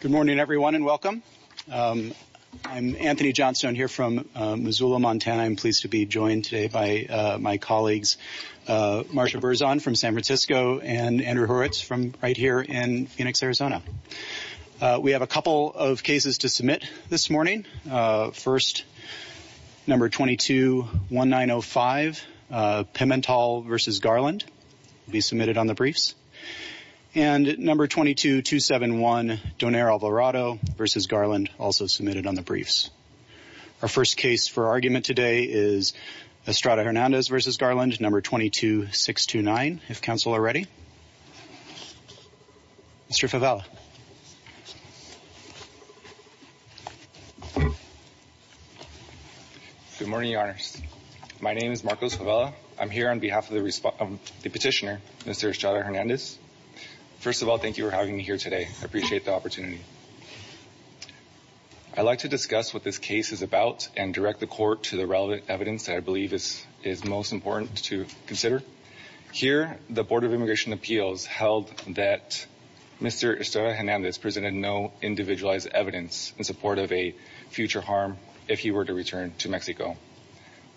Good morning, everyone, and welcome. I'm Anthony Johnstone here from Missoula, Montana. I'm pleased to be joined today by my colleagues Marcia Berzon from San Francisco and Andrew Horowitz from right here in Phoenix, Arizona. We have a couple of cases to submit this morning. First, No. 221905, Pimentel v. Garland will be submitted on the briefs. And No. 22271, Donaire Alvarado v. Garland, also submitted on the briefs. Our first case for argument today is Estrada-Hernandez v. Garland, No. 22629, if counsel are ready. Mr. Favela. Good morning, Your Honors. My name is Marcos Favela. I'm here on behalf of the petitioner, Mr. Estrada-Hernandez. First of all, thank you for having me here today. I appreciate the opportunity. I'd like to discuss what this case is about and direct the Court to the relevant evidence that I believe is most important to consider. Here, the Board of Immigration Appeals held that Mr. Estrada-Hernandez presented no individualized evidence in support of a future harm if he were to return to Mexico.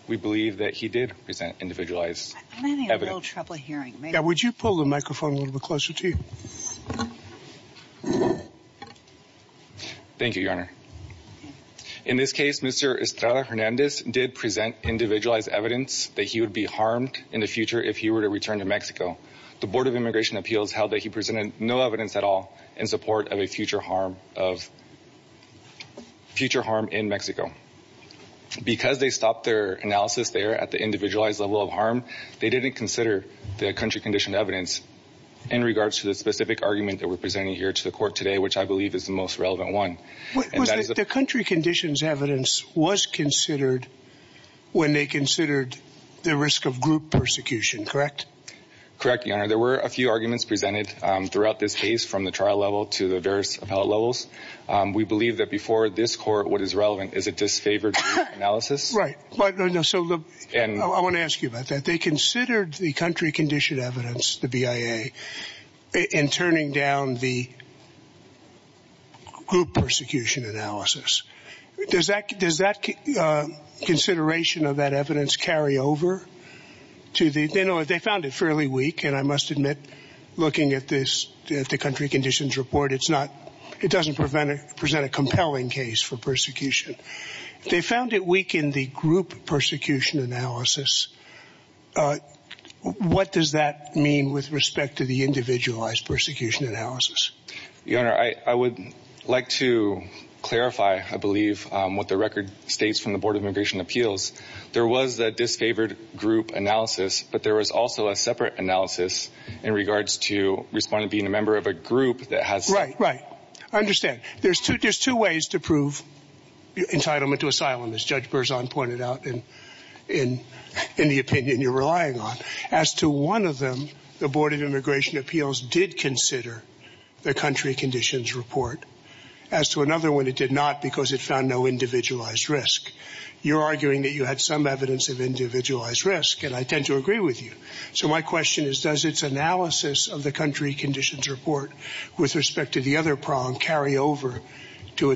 We believe that he did present individualized evidence. I'm having a little trouble hearing. Yeah, would you pull the microphone a little closer to you? Thank you, Your Honor. In this case, Mr. Estrada-Hernandez did present individualized evidence that he would be harmed in the future if he were to return to Mexico. The Board of Immigration Appeals held that he presented no evidence at all in support of a future harm in Mexico. Because they stopped their analysis there at the individualized level of harm, they didn't consider the country-conditioned evidence in regards to the specific argument that we're presenting here to the Court today, which I believe is the most relevant one. The country-conditioned evidence was considered when they considered the risk of group persecution, correct? Correct, Your Honor. There were a few arguments presented throughout this case, from the trial level to the various appellate levels. We believe that before this Court, what is relevant is a disfavored group analysis. Right. I want to ask you about that. They considered the country-conditioned evidence, the BIA, in turning down the group persecution analysis. Does that consideration of that evidence carry over? They found it fairly weak, and I must admit, looking at the country-conditioned report, it doesn't present a compelling case for what does that mean with respect to the individualized persecution analysis? Your Honor, I would like to clarify, I believe, what the record states from the Board of Immigration Appeals. There was a disfavored group analysis, but there was also a separate analysis in regards to respondent being a member of a group that has... Right, right. I understand. There's two ways to prove entitlement to asylum, as Judge Berzon pointed out, in the opinion you're relying on. As to one of them, the Board of Immigration Appeals did consider the country-conditioned report. As to another one, it did not, because it found no individualized risk. You're arguing that you had some evidence of individualized risk, and I tend to agree with you. So my question is, does its analysis of the country-conditioned report with respect to the other prong carry over to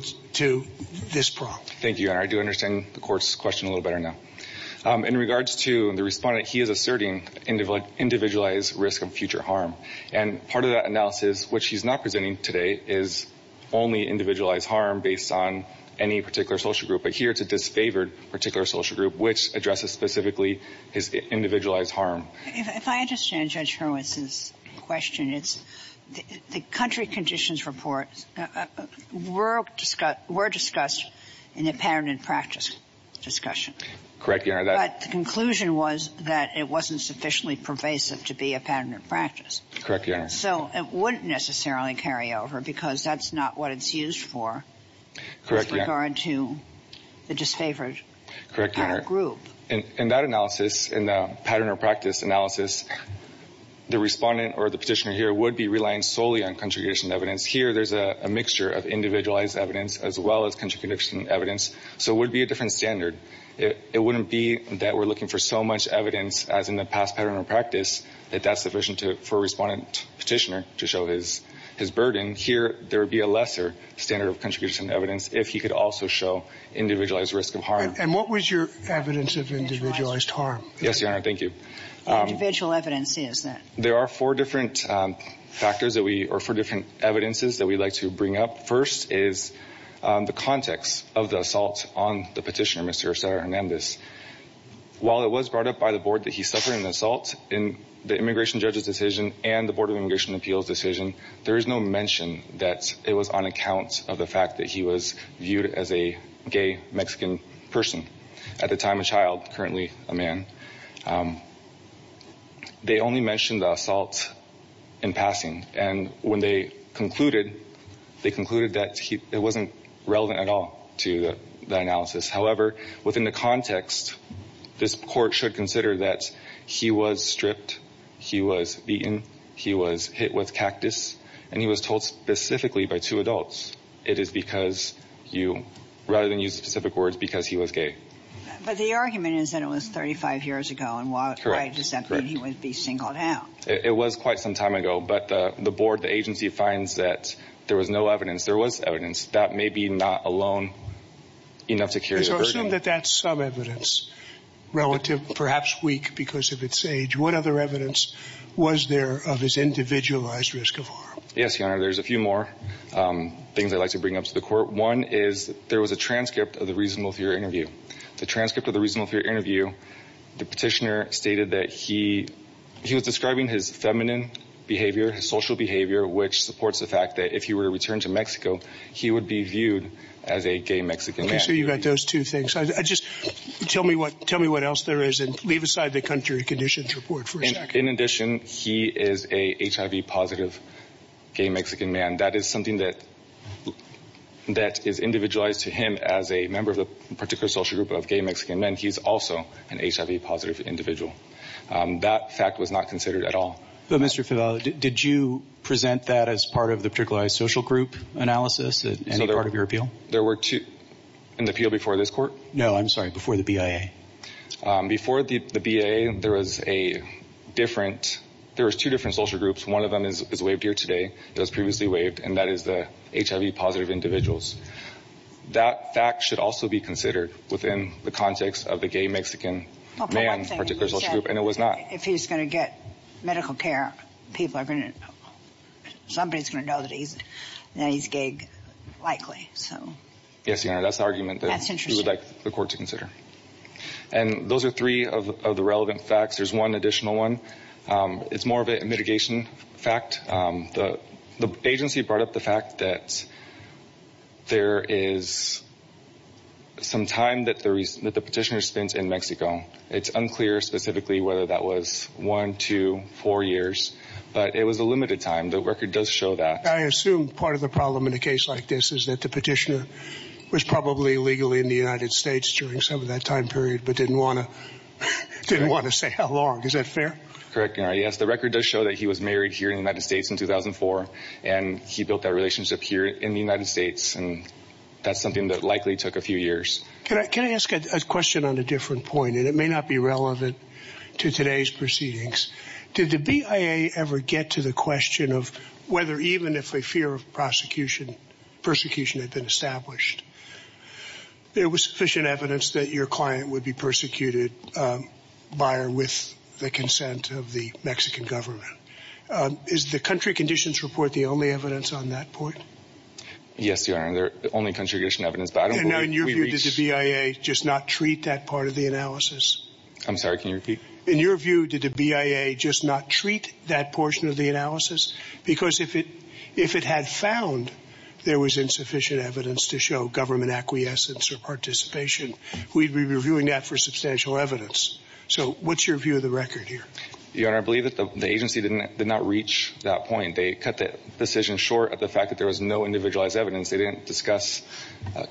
this prong? Thank you, Your Honor. I do understand the Court's question a little better now. In regards to the respondent, he is asserting individualized risk of future harm. And part of that analysis, which he's not presenting today, is only individualized harm based on any particular social group. But here it's a disfavored particular social group, which addresses specifically his individualized harm. If I understand Judge Hurwitz's question, it's the country-conditioned report. We're discussed in a pattern and practice discussion. Correct, Your Honor. But the conclusion was that it wasn't sufficiently pervasive to be a pattern and practice. Correct, Your Honor. So it wouldn't necessarily carry over, because that's not what it's used for with regard to the disfavored group. Correct, Your Honor. In that analysis, in the pattern or practice analysis, the there's a mixture of individualized evidence as well as country-conditioned evidence. So it would be a different standard. It wouldn't be that we're looking for so much evidence, as in the past pattern or practice, that that's sufficient for a respondent petitioner to show his burden. Here, there would be a lesser standard of country-conditioned evidence if he could also show individualized risk of harm. And what was your evidence of individualized harm? Yes, Your Honor. Thank you. Individual evidences that we'd like to bring up first is the context of the assault on the petitioner, Mr. Osorio Hernandez. While it was brought up by the board that he suffered an assault in the immigration judge's decision and the Board of Immigration Appeals decision, there is no mention that it was on account of the fact that he was viewed as a gay Mexican person at the time of child, currently a They only mentioned the assault in passing. And when they concluded, they concluded that it wasn't relevant at all to the analysis. However, within the context, this Court should consider that he was stripped, he was beaten, he was hit with cactus, and he was told specifically by two adults. It is because you, rather than use specific words, because he was gay. But the argument is that it was 35 years ago and by December he would be singled out. It was quite some time ago. But the board, the agency, finds that there was no evidence. There was evidence. That may be not alone enough to carry the burden. So assume that that's some evidence relative, perhaps weak because of its age. What other evidence was there of his individualized risk of harm? Yes, Your Honor. There's a few more things I'd like to bring up to the Court. One is there was a transcript of the reasonable fear interview. The transcript of the reasonable fear interview, the petitioner stated that he was describing his feminine behavior, his social behavior, which supports the fact that if he were to return to Mexico, he would be viewed as a gay Mexican man. Okay, so you've got those two things. Just tell me what else there is and leave aside the country conditions report for a second. In addition, he is a HIV positive gay Mexican man. That is something that is also an HIV positive individual. That fact was not considered at all. But Mr. Fevella, did you present that as part of the particularized social group analysis? Is that part of your appeal? There were two in the appeal before this Court? No, I'm sorry, before the BIA. Before the BIA, there was a different, there was two different social groups. One of them is waived here today. It was previously waived and that is the HIV positive individuals. That fact should also be considered within the context of the gay Mexican man, particular social group, and it was not. If he's going to get medical care, people are going to, somebody's going to know that he's gay likely. Yes, Your Honor, that's the argument that we would like the Court to consider. And those are three of the relevant facts. There's one additional one. It's more of a mitigation fact. The agency brought up the fact that there is some time that the petitioner spent in Mexico. It's unclear specifically whether that was one, two, four years, but it was a limited time. The record does show that. I assume part of the problem in a case like this is that the petitioner was probably legally in the larg. Is that fair? Correct, Your Honor. Yes, the record does show that he was married here in the United States in 2004 and he built that relationship here in the United States. And that's something that likely took a few years. Can I ask a question on a different point? And it may not be relevant to today's proceedings. Did the BIA ever get to the question of whether even if a fear of persecution had been established, there was sufficient evidence that your client would be persecuted by or with the consent of the Mexican government? Is the country conditions report the only evidence on that point? Yes, Your Honor, the only contribution evidence. But I don't know. In your view, did the BIA just not treat that part of the analysis? I'm sorry, can you repeat? In your view, did the BIA just not treat that portion of the analysis? Because if it if it had found there was insufficient evidence to show government acquiescence or participation, we'd be reviewing that for substantial evidence. So what's your view of the record here? Your Honor, I believe that the agency did not reach that point. They cut the decision short of the fact that there was no individualized evidence. They didn't discuss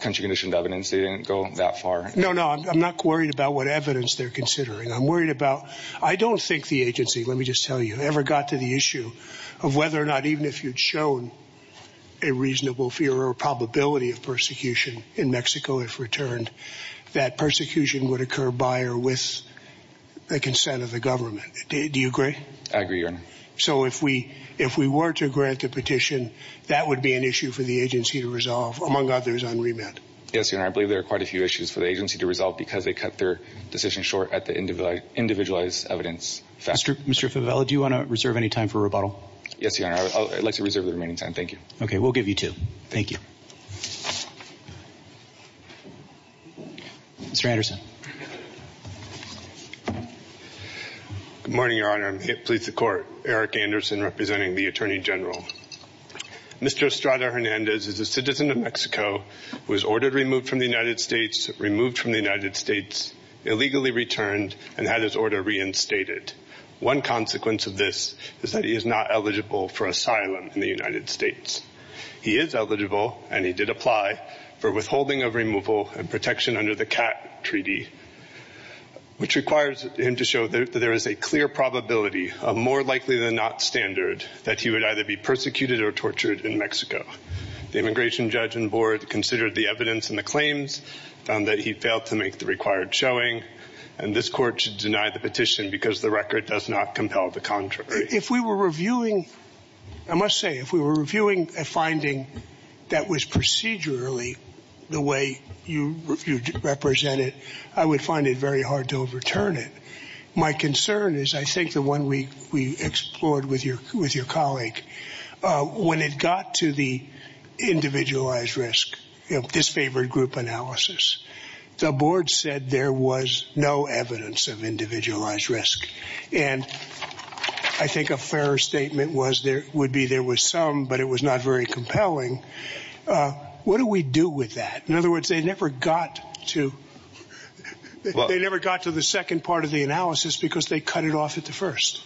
country conditioned evidence. They didn't go that far. No, no, I'm not worried about what evidence they're considering. I'm worried about whether the agency, let me just tell you, ever got to the issue of whether or not even if you'd shown a reasonable fear or probability of persecution in Mexico, if returned, that persecution would occur by or with the consent of the government. Do you agree? I agree, Your Honor. So if we if we were to grant the petition, that would be an issue for the agency to resolve, among others on remand? Yes, Your Honor, I believe there are quite a few issues for the agency to resolve because they cut their decision short at the individualized evidence factor. Mr. Fevella, do you want to reserve any time for rebuttal? Yes, Your Honor, I'd like to reserve the remaining time. Thank you. Okay, we'll give you two. Thank you. Mr. Anderson. Good morning, Your Honor. I'm here to please the Court. Eric Anderson, representing the Attorney General. Mr. Estrada Hernandez is a Mexican-American immigrant. He is a Mexican-American immigrant. He is not eligible for asylum in the United States. He is eligible, and he did apply, for withholding of removal and protection under the CAT treaty, which requires him to show that there is a clear probability, a more likely than not standard, that he would either be persecuted or tortured in Mexico. The Immigration Judgment Board considered the evidence and the claims, found that he failed to make the required showing, and this Court should deny the petition because the record does not compel the contrary. If we were reviewing, I must say, if we were reviewing a finding that was procedurally the way you represent it, I would find it very hard to overturn it. My concern is, I think, the one we explored with your colleague, when it got to the individualized risk, this favored group analysis, the Board said there was no evidence of individualized risk. And I think a fairer statement would be there was some, but it was not very compelling. What do we do with that? In other words, they never got to the second part of the analysis because they cut it off at the first.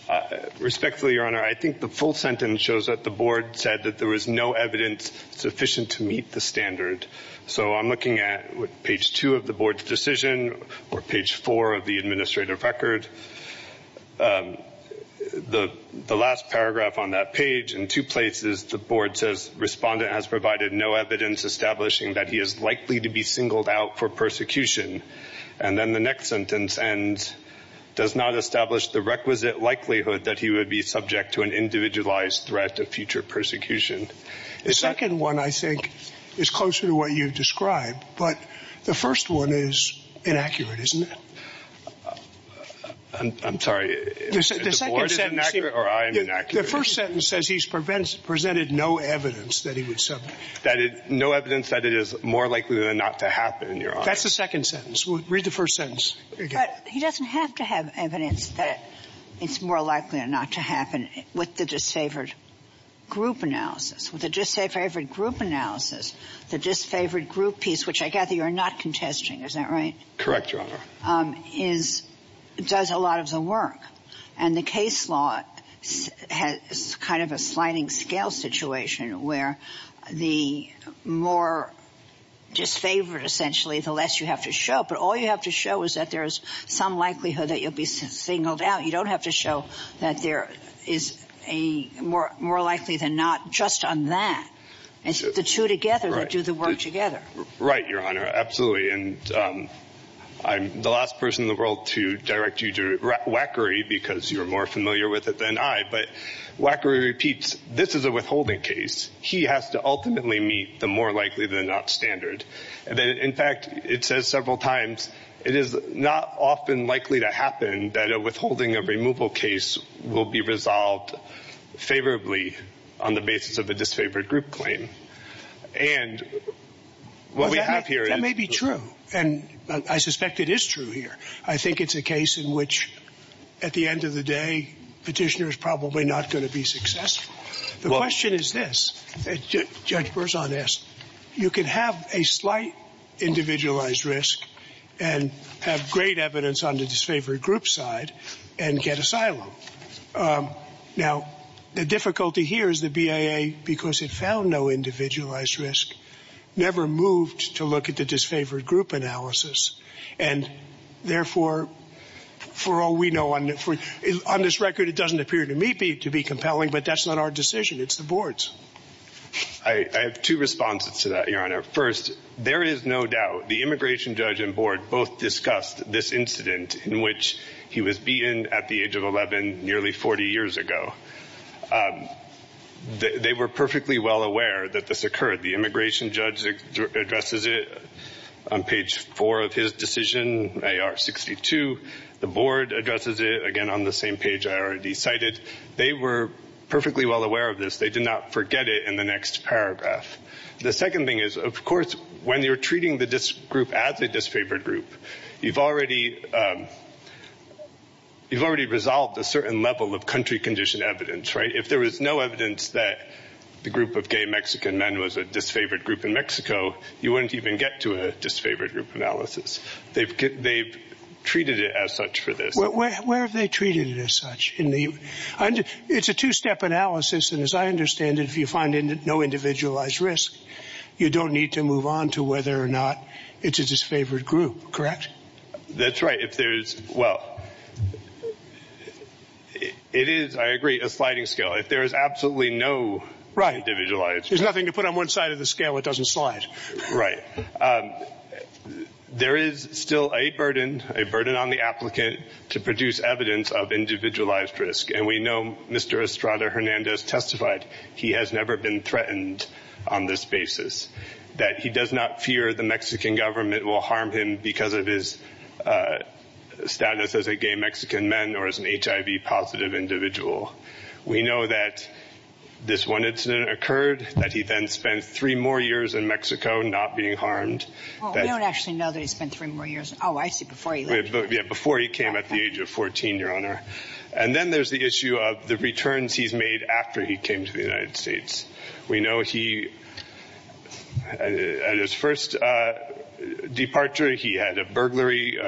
Respectfully, Your Honor, I think the full sentence shows that the Board said that there was no evidence sufficient to meet the standard. So I'm looking at page two of the Board's decision, or page four of the administrative record. The last paragraph on that page, in two places, the Board says, Respondent has provided no evidence establishing that he is likely to be singled out for persecution. And then the next sentence ends, does not establish the requisite likelihood that he would be subject to an individualized threat of future persecution. The second one, I think, is closer to what you've described. But the first one is presented no evidence that he would submit. No evidence that it is more likely than not to happen, Your Honor. That's the second sentence. Read the first sentence. But he doesn't have to have evidence that it's more likely than not to happen with the disfavored group analysis. With the disfavored group analysis, the disfavored situation where the more disfavored, essentially, the less you have to show. But all you have to show is that there is some likelihood that you'll be singled out. You don't have to show that there is a more likely than not just on that. It's the two together that do the work together. Right, Your Honor. Absolutely. And I'm the last person in the world to direct you to Wackery repeats, this is a withholding case. He has to ultimately meet the more likely than not standard. In fact, it says several times, it is not often likely to happen that a withholding of removal case will be resolved favorably on the basis of a disfavored group claim. And what we have here... That may be true. And I suspect it is true here. I think it's a case in which at the end of the day, petitioner is probably not going to be successful. The question is this, Judge Berzon asked, you can have a slight individualized risk and have great evidence on the disfavored group side and get asylum. Now, the difficulty here is the BIA, because it found no individualized risk, never moved to look at the disfavored group analysis. And therefore, for all we know, on this record, it doesn't appear to me to be compelling, but that's not our decision. It's the board's. I have two responses to that, Your Honor. First, there is no doubt the immigration judge and board both discussed this incident in which he was beaten at the age of 11 nearly 40 years ago. They were perfectly well aware that this occurred. The immigration judge addresses it on page 4 of his decision, AR 62. The board addresses it again on the same page I already cited. They were perfectly well aware of this. They did not forget it in the next paragraph. The second thing is, of course, when you're treating the group as a disfavored group, you've already resolved a certain level of country condition evidence, right? If there was no evidence that the group of gay Mexican men was a disfavored group in Mexico, you wouldn't even get to a disfavored group analysis. They've treated it as such for this. Where have they treated it as such? It's a two-step analysis, and as I understand it, if you find no individualized risk, you don't need to move on to whether or not it's a disfavored group, correct? That's right. If there's, well, it is, I agree, a sliding scale. If there is absolutely no individualized risk. There's nothing to put on one side of the scale that doesn't slide. Right. There is still a burden, a burden on the applicant to produce evidence of individualized risk, and we know Mr. Estrada Hernandez testified he has never been threatened on this basis, that he does not fear the Mexican government will harm him because of his status as a gay Mexican man or as an HIV positive individual. We know that this one incident occurred, that he then spent three more years in Mexico not being harmed. We don't actually know that he spent three more years. Oh, I see, before he left. Yeah, before he came at the age of 14, Your Honor. And then there's the issue of the returns he's made after he came to the United States. We know he, at his first departure, he had a burglary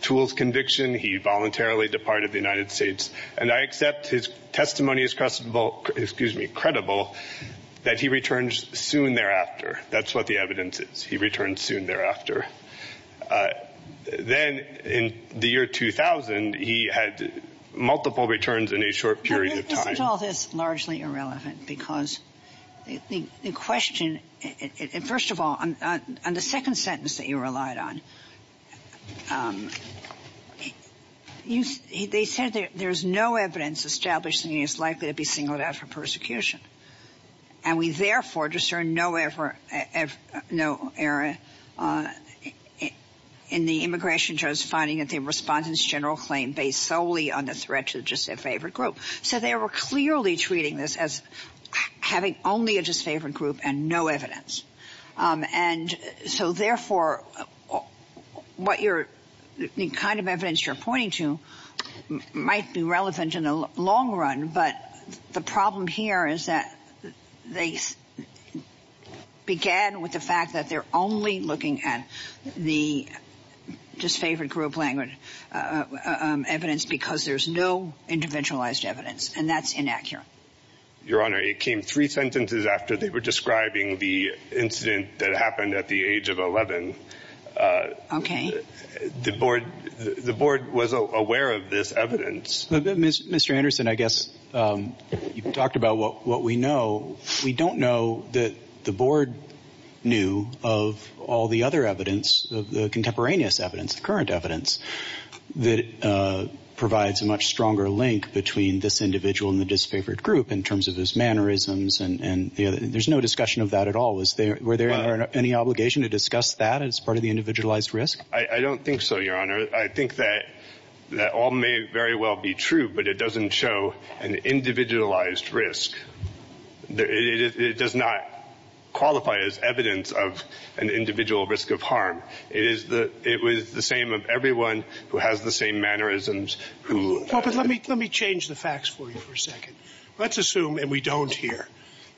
tools conviction. He voluntarily departed the United States. And I accept his testimony as credible that he returns soon thereafter. That's what the evidence is. He returns soon thereafter. Then in the year 2000, he had multiple returns in a short period of time. Why is all this largely irrelevant? Because the question, first of all, on the second sentence that you relied on, they said there's no evidence established that he is likely to be singled out for persecution. And we therefore discern no error in the immigration jurors finding that they respond to this general claim based solely on the threat to just their favorite group. So they were clearly treating this as having only a disfavored group and no evidence. And so therefore, what you're kind of evidence you're pointing to might be relevant in the long run. But the problem here is that they began with the fact that they're only looking at the disfavored group language evidence because there's no interventionalized evidence. And that's inaccurate. Your Honor, it came three sentences after they were describing the incident that happened at the age of 11. OK. The board the board was aware of this evidence. Mr. Anderson, I guess you talked about what we know. We don't know that the board knew of all the other evidence of the contemporaneous evidence, current evidence that provides a much stronger link between this individual and the disfavored group in terms of his mannerisms. And there's no discussion of that at all. Is there were there any obligation to discuss that as part of the individualized risk? I don't think so, Your Honor. I think that that all may very well be true, but it doesn't show an individualized risk. It does not qualify as evidence of an individual risk of harm. It is the it was the same of everyone who has the same mannerisms who. But let me let me change the facts for you for a second. Let's assume and we don't hear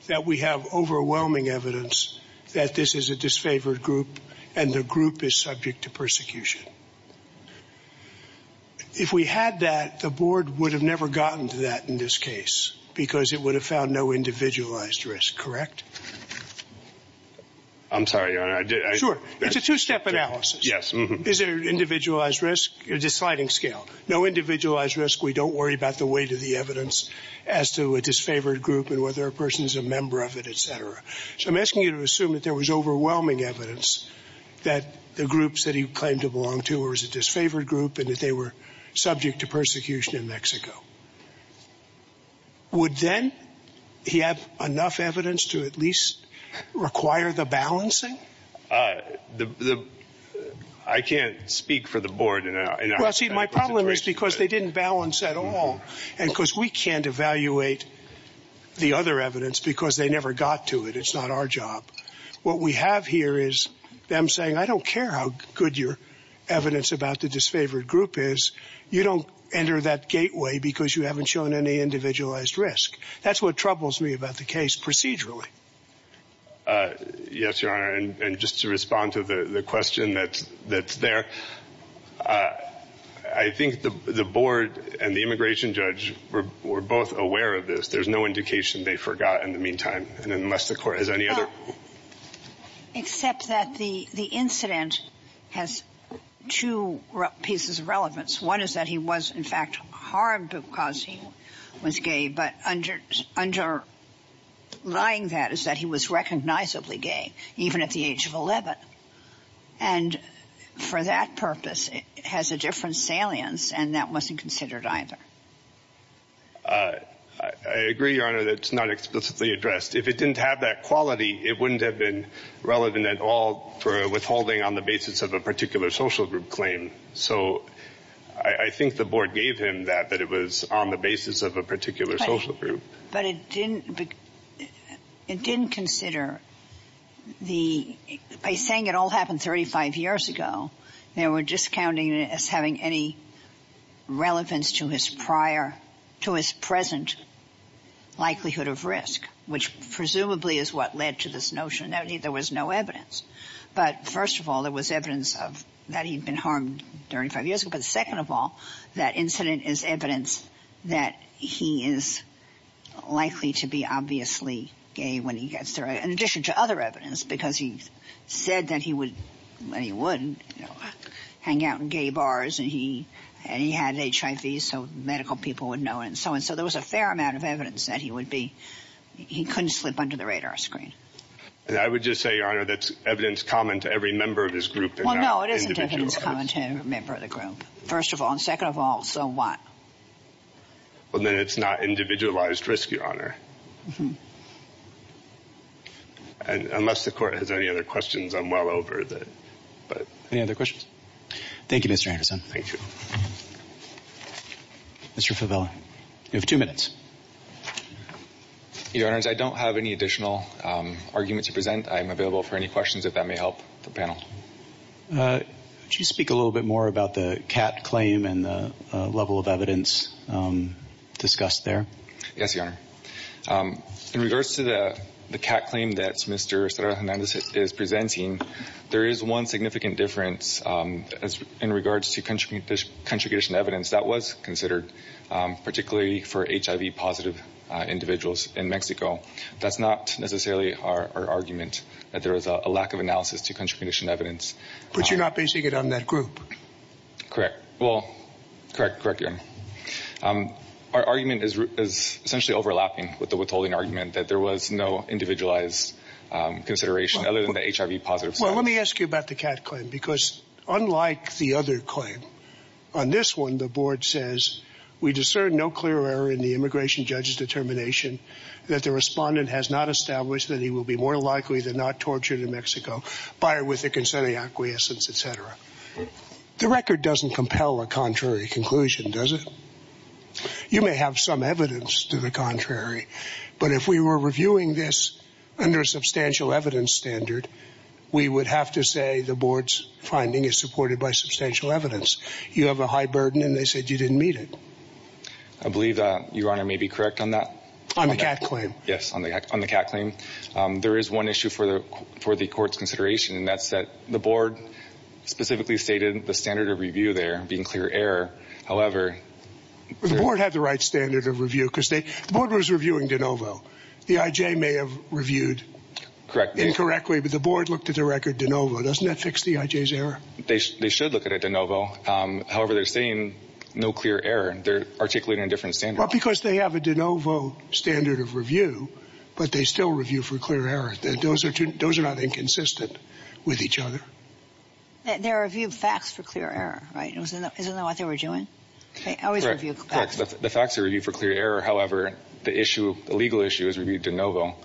that we have overwhelming evidence that this is a disfavored group and the group is subject to persecution. If we had that, the board would have never gotten to that in this case because it would have found no individualized risk. Correct. I'm sorry, Your Honor. Sure. It's a two step analysis. Yes. Is there an individualized risk? It's a sliding scale. No individualized risk. We don't worry about the weight of the evidence as to a disfavored group and whether a person is a member of it, etc. So I'm asking you to assume that there was overwhelming evidence that the groups that he claimed to belong to or is a disfavored group and that they were subject to persecution in Mexico. Would then he have enough evidence to at least require the balancing? The I can't speak for the board. Well, see, my problem is because they didn't balance at all. And because we can't evaluate the other evidence because they never got to it. It's not our job. What we have here is them saying, I don't care how good your evidence about the disfavored group is. You don't enter that gateway because you haven't shown any individualized risk. That's what troubles me about the case procedurally. Yes, Your Honor. And just to respond to the question that that's there, I think the board and the immigration judge were both aware of this. There's no indication they forgot in the meantime. And unless the court has any other. Except that the the incident has two pieces of relevance. One is that he was, in fact, harmed because he was gay. But under underlying that is that he was recognizably gay, even at the age of 11. And for that purpose, it has a different salience. And that wasn't considered either. I agree, Your Honor, that it's not explicitly addressed. If it didn't have that quality, it wouldn't have been relevant at all for withholding on the basis of a particular social group claim. So I think the board gave him that, that it was on the basis of a particular social group. But it didn't it didn't consider the by saying it all happened 35 years ago, they were discounting as having any relevance to his prior to his present likelihood of risk, which presumably is what led to this notion that there was no evidence. But first of all, there was evidence of that. He'd been harmed during five years. But second of all, that incident is evidence that he is likely to be obviously gay when he gets there. In addition to other evidence, because he said that he would hang out in gay bars and he and he had HIV. So medical people would know and so on. So there was a fair amount of evidence that he would be. He couldn't slip under the radar screen. I would just say, Your Honor, that's evidence common to every member of this group. Well, no, it isn't evidence common to every member of the group, first of all. And second of all, so what? Well, then it's not individualized risk, Your Honor. And unless the court has any other questions, I'm well over that. Any other questions? Thank you, Mr. Anderson. Thank you. Mr. Fevella, you have two minutes. Your Honor, I don't have any additional argument to present. I am available for any questions, if that may help the panel. Would you speak a little bit more about the cat claim and the level of evidence discussed there? Yes, Your Honor. In regards to the cat claim that Mr. Hernandez is presenting, there is one significant difference in regards to country condition evidence that was considered, particularly for HIV-positive individuals in Mexico. That's not necessarily our argument, that there is a lack of analysis to country condition evidence. But you're not basing it on that group? Correct. Well, correct, Your Honor. Our argument is essentially overlapping with the withholding argument, that there was no individualized consideration other than the HIV-positive side. Well, let me ask you about the cat claim, because unlike the other claim, on this one the board says, we discern no clear error in the immigration judge's determination that the respondent has not established that he will be more likely than not tortured in Mexico, by or with a consenting acquiescence, et cetera. The record doesn't compel a contrary conclusion, does it? You may have some evidence to the contrary, but if we were reviewing this under a substantial evidence standard, we would have to say the board's finding is supported by substantial evidence. You have a high burden, and they said you didn't meet it. I believe that Your Honor may be correct on that. On the cat claim? Yes, on the cat claim. There is one issue for the court's consideration, and that's that the board specifically stated the standard of review there being clear error. The board had the right standard of review, because the board was reviewing de novo. The IJ may have reviewed incorrectly, but the board looked at the record de novo. Doesn't that fix the IJ's error? They should look at it de novo. However, they're saying no clear error. They're articulating a different standard. Well, because they have a de novo standard of review, but they still review for clear error. Those are not inconsistent with each other. They reviewed facts for clear error, right? Isn't that what they were doing? They always review facts. The facts are reviewed for clear error. However, the legal issue is reviewed de novo.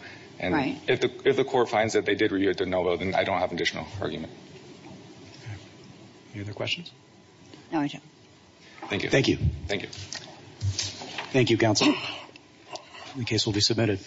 If the court finds that they did review it de novo, then I don't have an additional argument. Any other questions? No, I do. Thank you. Thank you. Thank you, counsel. The case will be submitted.